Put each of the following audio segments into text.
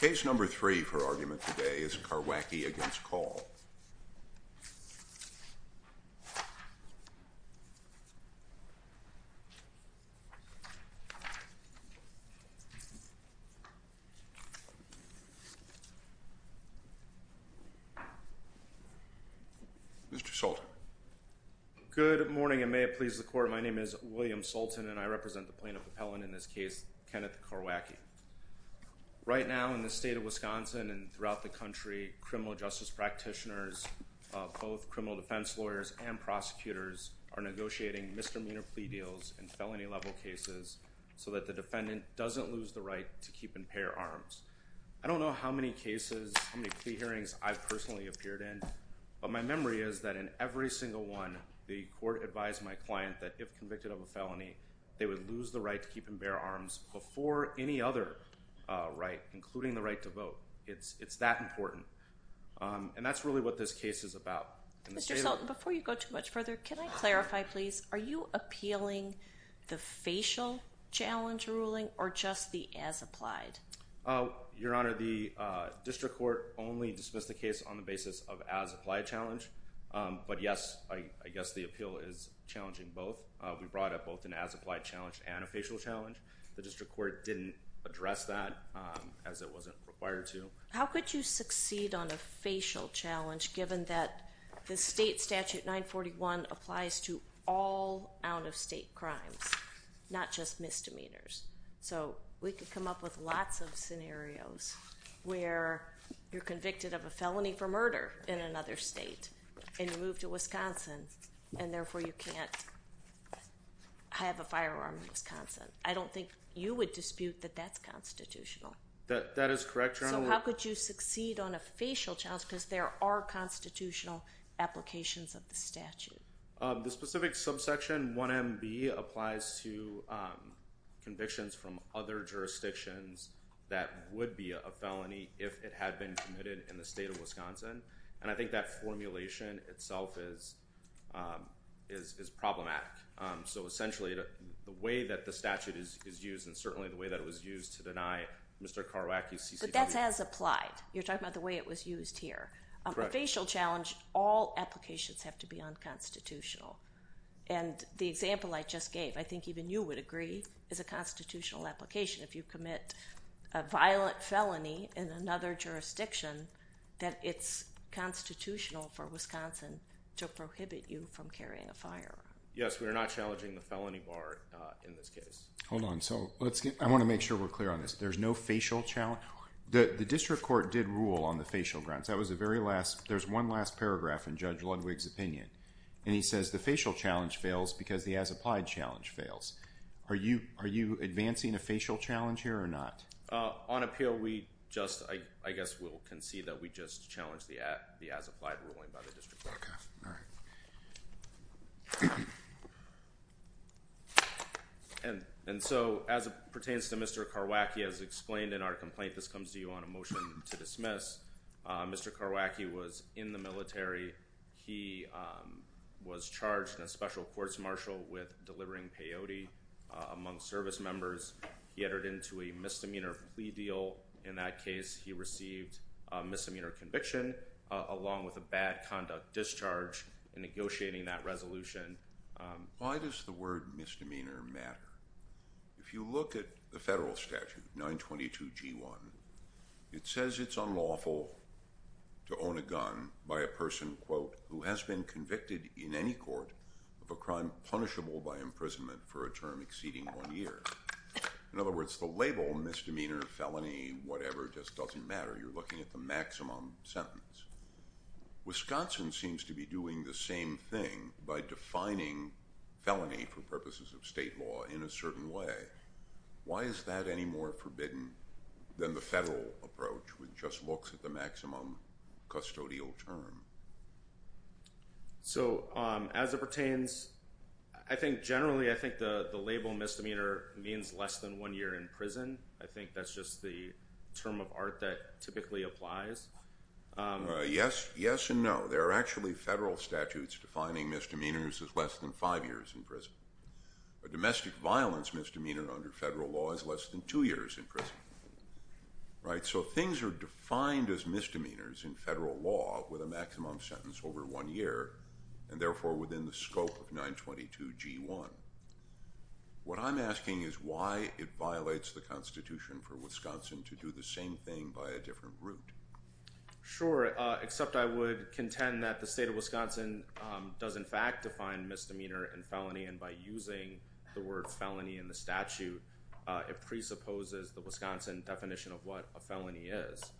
Case number three for argument today is Karwacki against Kaul. Mr. Sultan. Good morning and may it please the court my name is William Karwacki. Right now in the state of Wisconsin and throughout the country criminal justice practitioners, both criminal defense lawyers and prosecutors are negotiating misdemeanor plea deals and felony level cases so that the defendant doesn't lose the right to keep and bear arms. I don't know how many cases, how many plea hearings I've personally appeared in but my memory is that in every single one the court advised my client that if convicted of a misdemeanor plea or any other right, including the right to vote, it's it's that important. And that's really what this case is about. Mr. Sultan, before you go too much further, can I clarify please, are you appealing the facial challenge ruling or just the as-applied? Oh your honor, the district court only dismissed the case on the basis of as-applied challenge but yes I guess the appeal is challenging both. We brought up both an as-applied challenge and a facial challenge. The district court didn't address that as it wasn't required to. How could you succeed on a facial challenge given that the state statute 941 applies to all out-of-state crimes, not just misdemeanors? So we could come up with lots of scenarios where you're convicted of a felony for murder in another state and you move to Wisconsin and therefore you can't have a firearm in Wisconsin. I don't think you would dispute that that's constitutional. That is correct, your honor. So how could you succeed on a facial challenge because there are constitutional applications of the statute? The specific subsection 1MB applies to convictions from other jurisdictions that would be a felony if it had been committed in the state of Wisconsin and I think that formulation itself is is problematic. So essentially the way that the statute is used and certainly the way that it was used to deny Mr. Karwacki's CCW. But that has applied. You're talking about the way it was used here. On the facial challenge all applications have to be unconstitutional and the example I just gave I think even you would agree is a constitutional application if you commit a violent felony in another jurisdiction that it's constitutional for Wisconsin to prohibit you from carrying a firearm. Yes we are not challenging the felony bar in this case. Hold on so let's get I want to make sure we're clear on this there's no facial challenge. The district court did rule on the facial grounds that was the very last there's one last paragraph in Judge Ludwig's opinion and he says the facial challenge fails because the as applied challenge fails. Are you are you advancing a facial challenge here or not? On appeal we just I guess we'll concede that we just challenged the as applied ruling by the district court. And so as it pertains to Mr. Karwacki as explained in our complaint this comes to you on a motion to dismiss. Mr. Karwacki was in the military. He was charged in a special courts martial with delivering peyote among service members. He entered into a misdemeanor plea deal. In that case he received a misdemeanor conviction along with a bad conduct discharge in negotiating that resolution. Why does the word misdemeanor matter? If you look at the federal statute 922 g1 it says it's unlawful to own a gun by a person quote who has been convicted in any court of a crime punishable by imprisonment for a term exceeding one year. In other words the label misdemeanor felony whatever just doesn't matter you're looking at the maximum sentence. Wisconsin seems to be doing the same thing by defining felony for purposes of state law in a certain way. Why is that any more forbidden than the federal approach which just looks at the maximum custodial term? So as it pertains I think generally I think the the label misdemeanor means less than one year in prison. I think that's just the term of art that typically applies. Yes yes and no. There are actually federal statutes defining misdemeanors as less than five years in prison. A domestic violence misdemeanor under federal law is less than two years in prison. Right so things are defined as misdemeanors in federal law with a maximum sentence over one year and therefore within the scope of 922 g1. What I'm asking is why it violates the Constitution for Wisconsin to do the same thing by a different route? Sure except I would contend that the state of Wisconsin does in fact define misdemeanor and felony and by using the word felony in the statute it presupposes the Wisconsin definition of what a felony is.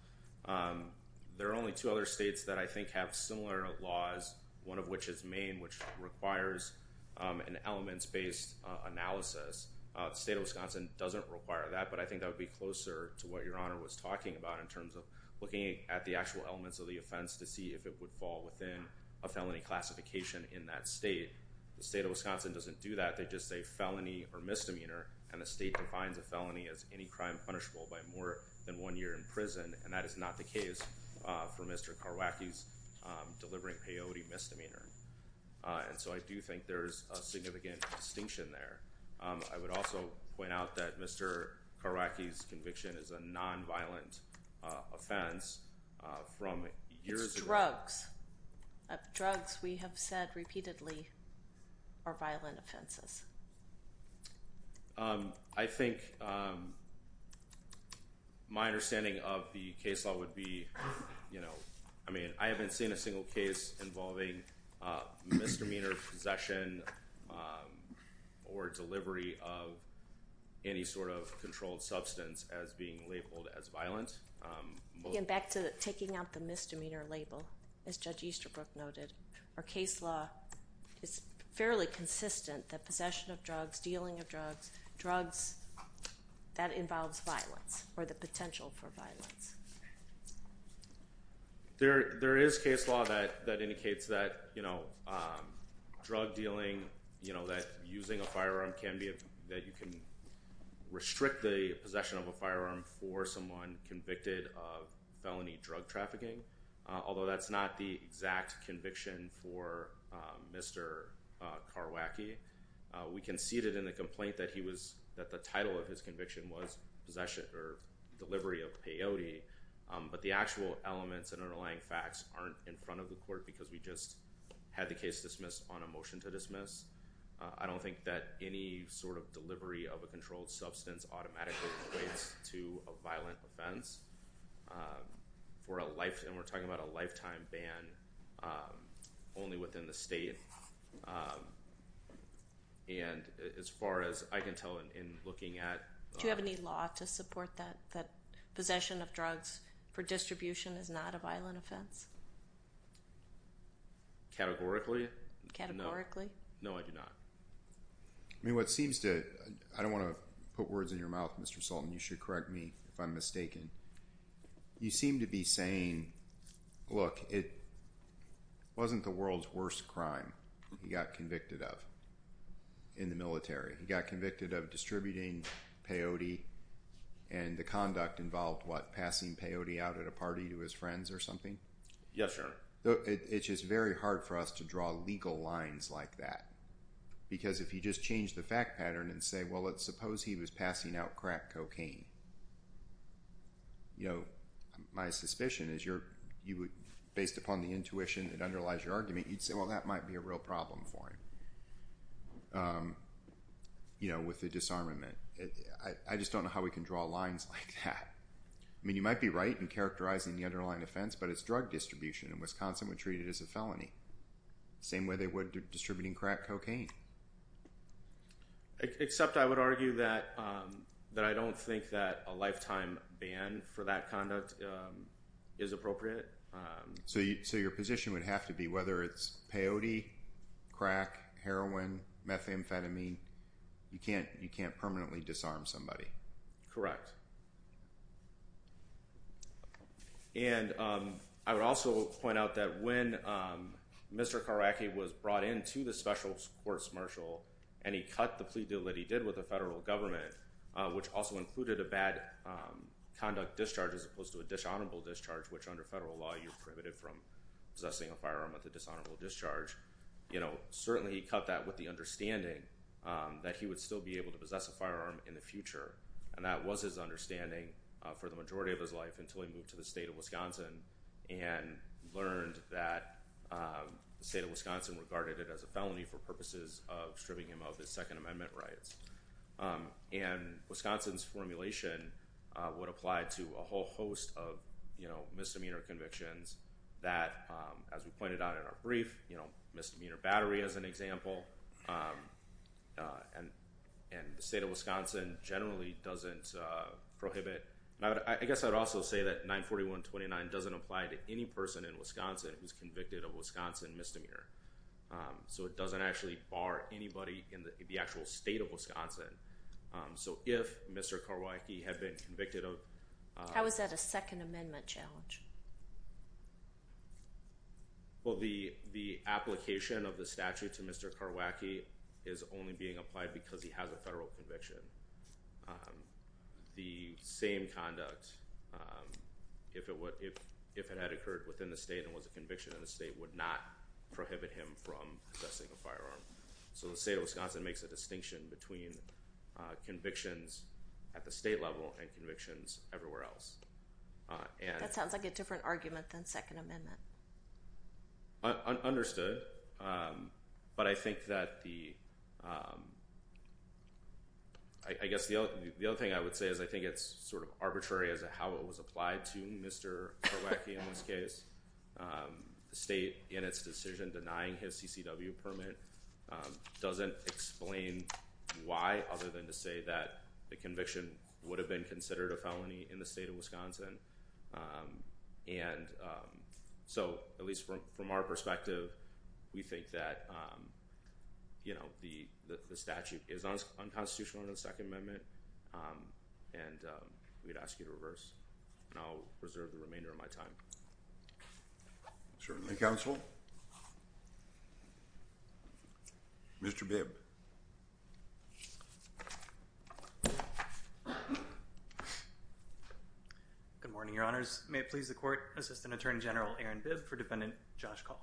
There are only two other states that I think have similar laws one of which is Maine which requires an elements based analysis. The state of Wisconsin doesn't require that but I think that would be closer to what your honor was talking about in terms of looking at the actual elements of the offense to see if it would fall within a felony classification in that state. The state of Wisconsin doesn't do that they just say felony or misdemeanor and the state defines a felony as any crime punishable by more than one year in prison and that is not the case for Mr. Karwacki's delivering peyote misdemeanor and so I do think there's a significant distinction there. I would also point out that Mr. Karwacki's conviction is a non-violent offense from years ago. It's drugs. Drugs we have said repeatedly are violent offenses. I think my understanding of the case law would be you know I mean I haven't seen a single case involving misdemeanor possession or delivery of any sort of controlled substance as being labeled as violent. Again back to taking out the misdemeanor label as Judge Easterbrook noted our case law is fairly consistent that possession of drugs, dealing of drugs, drugs that involves violence or the potential for violence. There is case law that that indicates that you know drug dealing you know that using a firearm can be that you can restrict the possession of a firearm for someone convicted of felony drug trafficking although that's not the exact conviction for Mr. Karwacki. We conceded in the complaint that he was that the title of his conviction was possession or delivery of peyote but the actual elements and underlying facts aren't in front of the court because we just had the case dismissed on a motion to dismiss. I don't think that any sort of delivery of a controlled substance automatically equates to a violent offense for a life and we're talking about a lifetime ban only within the state and as far as I can tell in looking at. Do you have any law to support that that possession of drugs for distribution is not a violent offense? Categorically? Categorically. No I do not. I mean what seems to I don't want to put words in your mouth Mr. Sultan you should correct me if I'm mistaken. You seem to be saying look it wasn't the world's worst crime he got convicted of in the military. He got convicted of distributing peyote and the conduct involved what passing peyote out at a party to his friends or something? Yes sir. It's just very hard for us to draw legal lines like that because if you just change the fact pattern and say well let's suppose he was passing out crack cocaine you know my suspicion is you're you would based upon the intuition that underlies your argument you'd say well that might be a real problem for him you know with the disarmament. I just don't know how we can draw lines like that. I mean you might be right in characterizing the underlying offense but it's drug distribution. In Wisconsin we treat it as a felony. Same way they would distributing crack cocaine. Except I would argue that that I don't think that a lifetime ban for that conduct is appropriate. So your position would have to be whether it's peyote, crack, heroin, methamphetamine you can't you can't permanently disarm somebody. Correct. And I would also point out that when Mr. Karwacki was brought into the special courts marshal and he cut the plea deal that he did with the federal government which also included a bad conduct discharge as opposed to a dishonorable discharge which under federal law you're prohibited from possessing a firearm at the dishonorable discharge you know certainly he cut that with the understanding that he would still be able to possess a firearm in the future and that was his understanding for the majority of his life until he moved to the state of Wisconsin and learned that the state of Wisconsin regarded it as a felony for purposes of stripping him of his Second Amendment rights. And Wisconsin's formulation would apply to a whole host of you know misdemeanor convictions that as we pointed out in our brief you know the state of Wisconsin generally doesn't prohibit. I guess I'd also say that 941 29 doesn't apply to any person in Wisconsin who's convicted of Wisconsin misdemeanor. So it doesn't actually bar anybody in the actual state of Wisconsin. So if Mr. Karwacki had been convicted of... How is that a Second Amendment challenge? Well the the application of the statute to Mr. Karwacki is only being applied because he has a federal conviction. The same conduct if it would if if it had occurred within the state and was a conviction in the state would not prohibit him from possessing a firearm. So the state of Wisconsin makes a distinction between convictions at the state level and convictions everywhere else. That sounds like a different argument than Second Amendment. Understood but I think that the I guess the other thing I would say is I think it's sort of arbitrary as a how it was applied to Mr. Karwacki in this case. The state in its decision denying his CCW permit doesn't explain why other than to say that the conviction would have been a felony in the state of Wisconsin. And so at least from our perspective we think that you know the the statute is unconstitutional under the Second Amendment and we'd ask you to reverse. I'll reserve the remainder of my time. Certainly counsel. Mr. Bibb. Good morning Your Honors. May it please the Court Assistant Attorney General Aaron Bibb for Defendant Josh Call.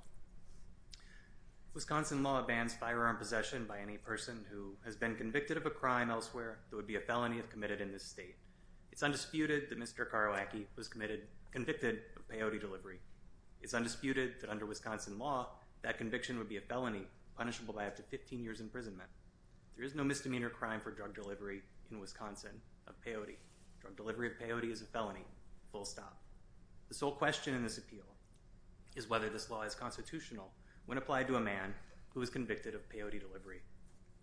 Wisconsin law bans firearm possession by any person who has been convicted of a crime elsewhere that would be a felony if committed in this state. It's undisputed that Mr. Karwacki was committed convicted of peyote delivery. It's undisputed that under Wisconsin law that conviction would be a felony punishable by up to 15 years imprisonment. There is no misdemeanor crime for drug delivery in Wisconsin of peyote. Drug delivery of peyote is a felony. Full stop. The sole question in this appeal is whether this law is constitutional when applied to a man who was convicted of peyote delivery.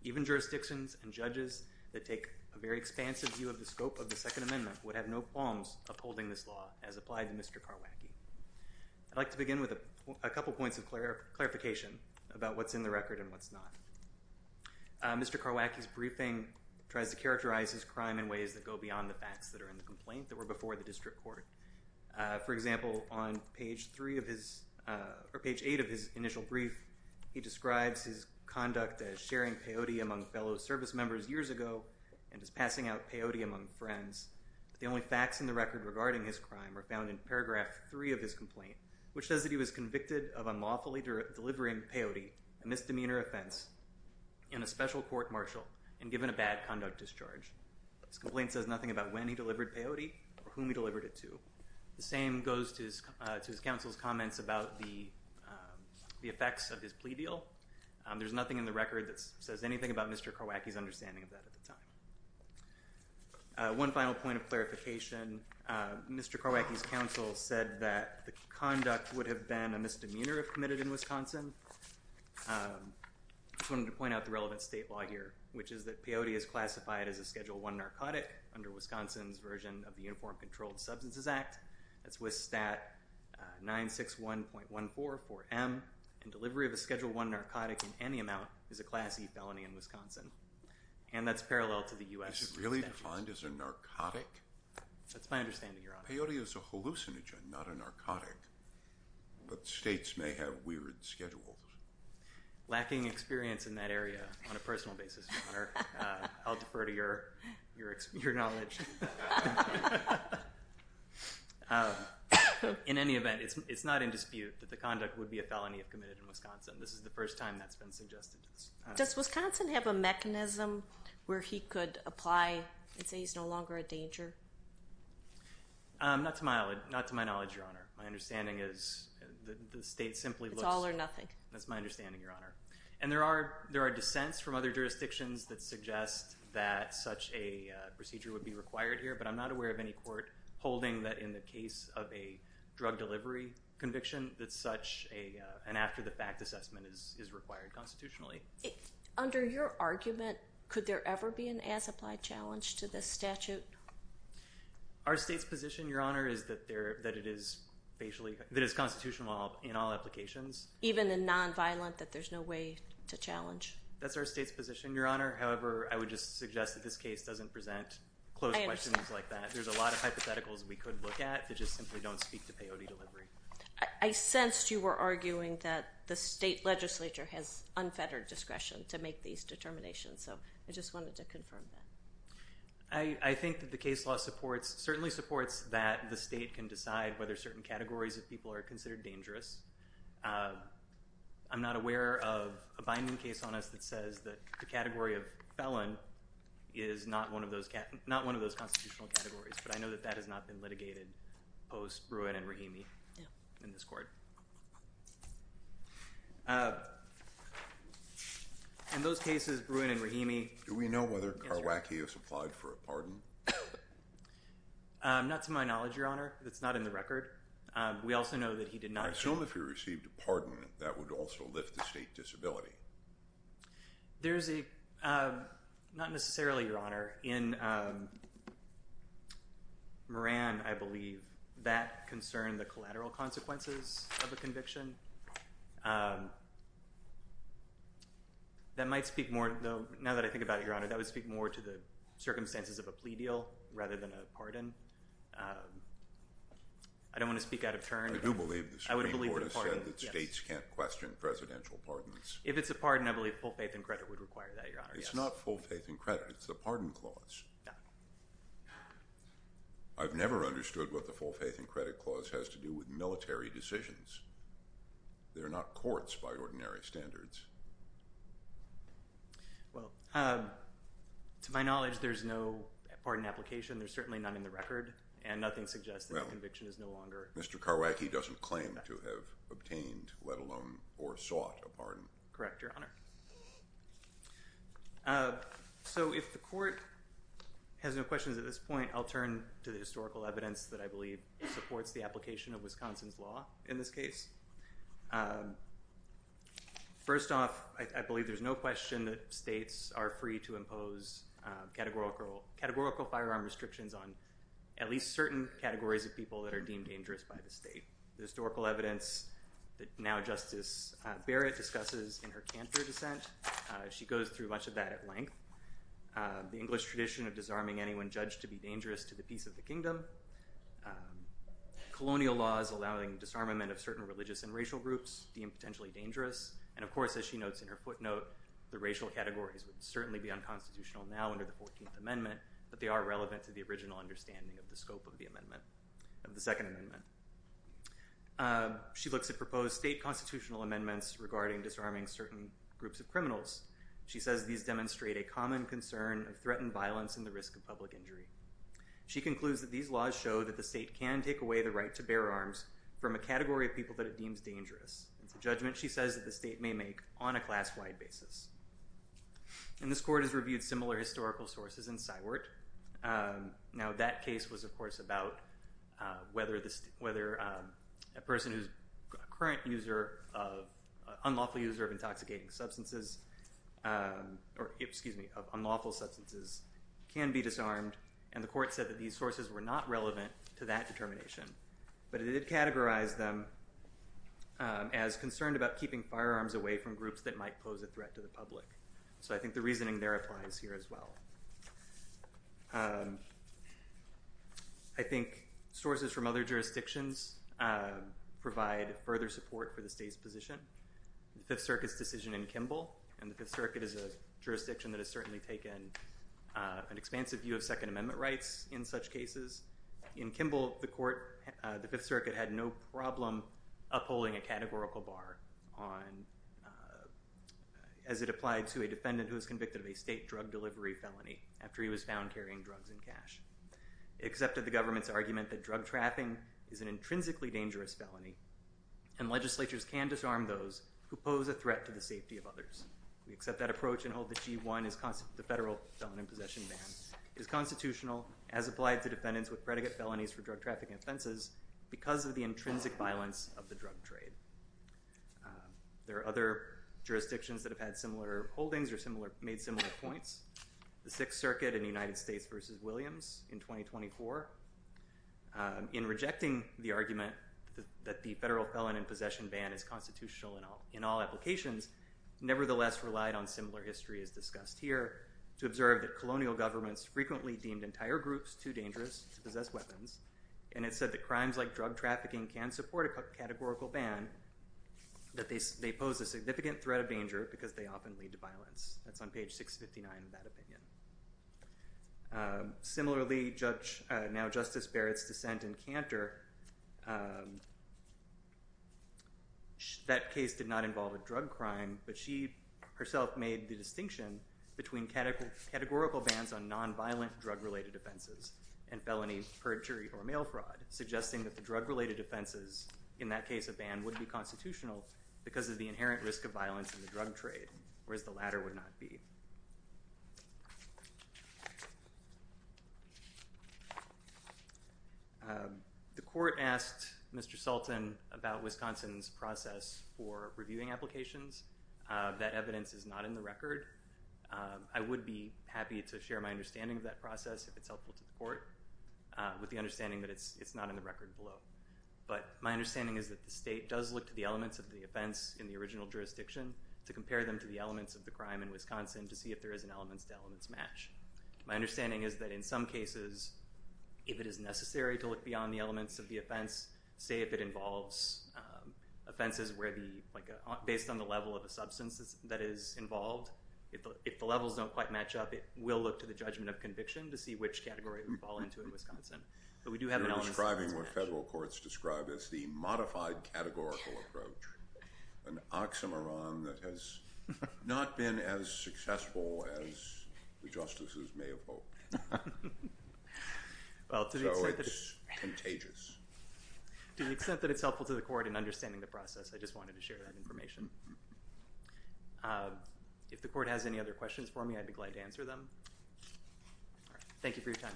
Even jurisdictions and judges that take a very expansive view of the scope of the palms upholding this law as applied to Mr. Karwacki. I'd like to begin with a couple points of clarification about what's in the record and what's not. Mr. Karwacki's briefing tries to characterize his crime in ways that go beyond the facts that are in the complaint that were before the district court. For example on page three of his or page eight of his initial brief he describes his conduct as sharing peyote among fellow service members years ago and is passing out peyote among friends. The only facts in the record regarding his crime are found in paragraph three of his complaint which says that he was convicted of unlawfully delivering peyote, a misdemeanor offense, in a special court-martial and given a bad conduct discharge. This complaint says nothing about when he delivered peyote or whom he delivered it to. The same goes to his counsel's comments about the effects of his plea deal. There's nothing in the record that says anything about Mr. Karwacki's understanding of that at the time. One final point of clarification, Mr. Karwacki's counsel said that the conduct would have been a misdemeanor if committed in Wisconsin. I wanted to point out the relevant state law here which is that peyote is classified as a Schedule 1 narcotic under Wisconsin's version of the Uniform Controlled Substances Act. That's WIS Stat 961.144M and delivery of a parallel to the U.S. Really defined as a narcotic? That's my understanding, Your Honor. Peyote is a hallucinogen, not a narcotic, but states may have weird schedules. Lacking experience in that area on a personal basis, Your Honor. I'll defer to your knowledge. In any event, it's not in dispute that the conduct would be a felony if committed in Wisconsin. This is the first time that's been suggested. Does Wisconsin have a mechanism where he could apply and say he's no longer a danger? Not to my knowledge, Your Honor. My understanding is the state simply looks... It's all or nothing. That's my understanding, Your Honor. And there are there are dissents from other jurisdictions that suggest that such a procedure would be required here, but I'm not aware of any court holding that in the case of a drug delivery conviction that such an after-the-fact assessment is required constitutionally. Under your argument, could there ever be an as-applied challenge to this statute? Our state's position, Your Honor, is that it is constitutionally in all applications. Even in nonviolent, that there's no way to challenge? That's our state's position, Your Honor. However, I would just suggest that this case doesn't present close questions like that. There's a lot of hypotheticals we could look at that just simply don't speak to POD delivery. I sensed you were arguing that the state legislature has unfettered discretion to make these determinations, so I just wanted to confirm that. I think that the case law supports, certainly supports, that the state can decide whether certain categories of people are considered dangerous. I'm not aware of a binding case on us that says that the category of felon is not one of those, not one of those constitutional categories, but I know that that has not been litigated post-Bruin and Rahimi in this court. In those cases, Bruin and Rahimi... Do we know whether Karwackius applied for a pardon? Not to my knowledge, Your Honor. That's not in the record. We also know that he did not... I assume if he received a pardon, that would also lift the state disability. There's a... Not necessarily, Your Honor. In Moran, I believe, that concerned the collateral consequences of a conviction. That might speak more... Now that I think about it, Your Honor, that would speak more to the circumstances of a plea deal rather than a pardon. I don't want to speak out of If it's a pardon, I believe full faith and credit would require that, Your Honor. It's not full faith and credit. It's the pardon clause. I've never understood what the full faith and credit clause has to do with military decisions. They're not courts by ordinary standards. Well, to my knowledge, there's no pardon application. There's certainly none in the record, and nothing suggests that conviction is no Mr. Karwacki doesn't claim to have obtained, let alone or sought, a pardon. Correct, Your Honor. So if the court has no questions at this point, I'll turn to the historical evidence that I believe supports the application of Wisconsin's law in this case. First off, I believe there's no question that states are free to impose categorical firearm restrictions on at least certain categories of people that are deemed dangerous by the state. The historical evidence that now Justice Barrett discusses in her Cantor dissent, she goes through much of that at length. The English tradition of disarming anyone judged to be dangerous to the peace of the kingdom. Colonial laws allowing disarmament of certain religious and racial groups deemed potentially dangerous. And of course, as she notes in her footnote, the racial categories would certainly be unconstitutional now under the 14th Amendment, but they are relevant to the original understanding of the scope of the amendment, of the Second Amendment. She looks at proposed state constitutional amendments regarding disarming certain groups of criminals. She says these demonstrate a common concern of threatened violence and the risk of public injury. She concludes that these laws show that the state can take away the right to bear arms from a category of people that it deems dangerous. It's a judgment, she says, that the state may make on a class-wide basis. And this court has reviewed similar historical sources in Sywart. Now that case was, of course, about whether a person who's a current user, an unlawful user of intoxicating substances, or excuse me, of unlawful substances can be disarmed. And the court said that these sources were not relevant to that determination, but it did categorize them as concerned about keeping firearms away from groups that might pose a threat to the public. So I think the reasoning there applies here as well. I think sources from other jurisdictions provide further support for the state's position. The Fifth Circuit's decision in Kimball, and the Fifth Circuit is a jurisdiction that has certainly taken an expansive view of Second Amendment rights in such cases. In Kimball, the court, the Fifth Circuit had no problem upholding a categorical bar on, as it applied to a defendant who is convicted of a state drug delivery felony after he was found carrying drugs in cash. It accepted the government's argument that drug trafficking is an intrinsically dangerous felony, and legislatures can disarm those who pose a threat to the safety of others. We accept that approach and hold that G1, the federal felon in possession ban, is constitutional as applied to defendants with predicate felonies for drug trafficking offenses because of the intrinsic violence of the drug trade. There are other jurisdictions that have similar holdings or made similar points. The Sixth Circuit in the United States v. Williams in 2024, in rejecting the argument that the federal felon in possession ban is constitutional in all applications, nevertheless relied on similar history as discussed here to observe that colonial governments frequently deemed entire groups too dangerous to possess weapons, and it said that crimes like drug trafficking can support a categorical ban, that they pose a significant threat of danger because they often lead to violence. That's on page 659 of that opinion. Similarly, now Justice Barrett's dissent in Cantor, that case did not involve a drug crime, but she herself made the distinction between categorical bans on nonviolent drug-related offenses and felony perjury or mail fraud, suggesting that the drug-related offenses, in that case a ban, would be constitutional because of the inherent risk of violence in the drug trade, whereas the latter would not be. The court asked Mr. Sultan about Wisconsin's process for reviewing applications. That evidence is not in the record. I would be happy to share my understanding of that process if it's helpful to the court, with the understanding that it's not in the record below, but my understanding is that the state does look to the elements of the offense in the original jurisdiction to compare them to the elements of the crime in Wisconsin to see if there is an elements-to-elements match. My understanding is that in some cases, if it is necessary to look beyond the elements of the offense, say if it involves offenses based on the level of a substance that is involved, if the levels don't quite match up, it will look to the judgment of conviction to see which category it would fall into in Wisconsin, but we do have an elements-to-elements match. You're describing what federal courts describe as the modified categorical approach, an oxymoron that has not been as successful as the justices may have hoped. So it's contagious. To the extent that it's helpful to the court in understanding the process, I just wanted to share that information. If the court has any other questions for me, I'd be glad to answer them. Thank you for your time.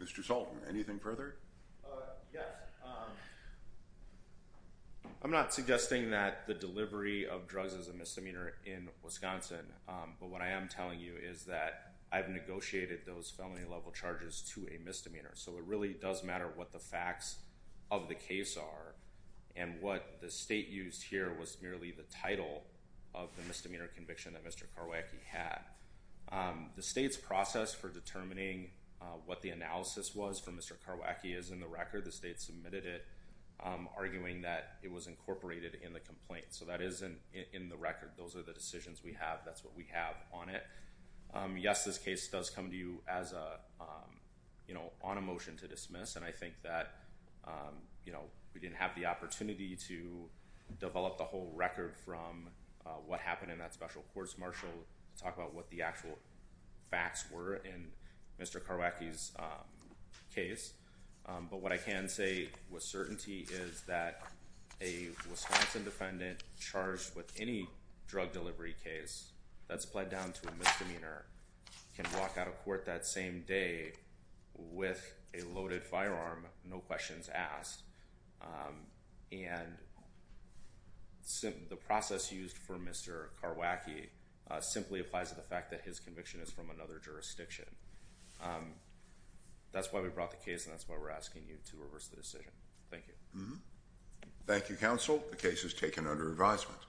Mr. Salter, anything further? Yes. I'm not suggesting that the delivery of drugs is a misdemeanor in Wisconsin, but what I am telling you is that I've negotiated those felony level charges to a misdemeanor, so it really does matter what the facts of the case are and what the state used here was merely the title of the misdemeanor conviction that Mr. Karwacki had. The state's process for determining what the analysis was for Mr. Karwacki is in the record. The state submitted it arguing that it was incorporated in the complaint, so that is in the record. Those are the decisions we have. That's what we have on it. Yes, this case does come to you as a, you know, on a motion to dismiss, and I think that, you develop the whole record from what happened in that special courts marshal to talk about what the actual facts were in Mr. Karwacki's case, but what I can say with certainty is that a Wisconsin defendant charged with any drug delivery case that's pled down to a misdemeanor can walk out of court that same day with a loaded firearm, no questions asked, and the process used for Mr. Karwacki simply applies to the fact that his conviction is from another jurisdiction. That's why we brought the case and that's why we're asking you to reverse the decision. Thank you. Thank you, counsel. The case is taken under advisement.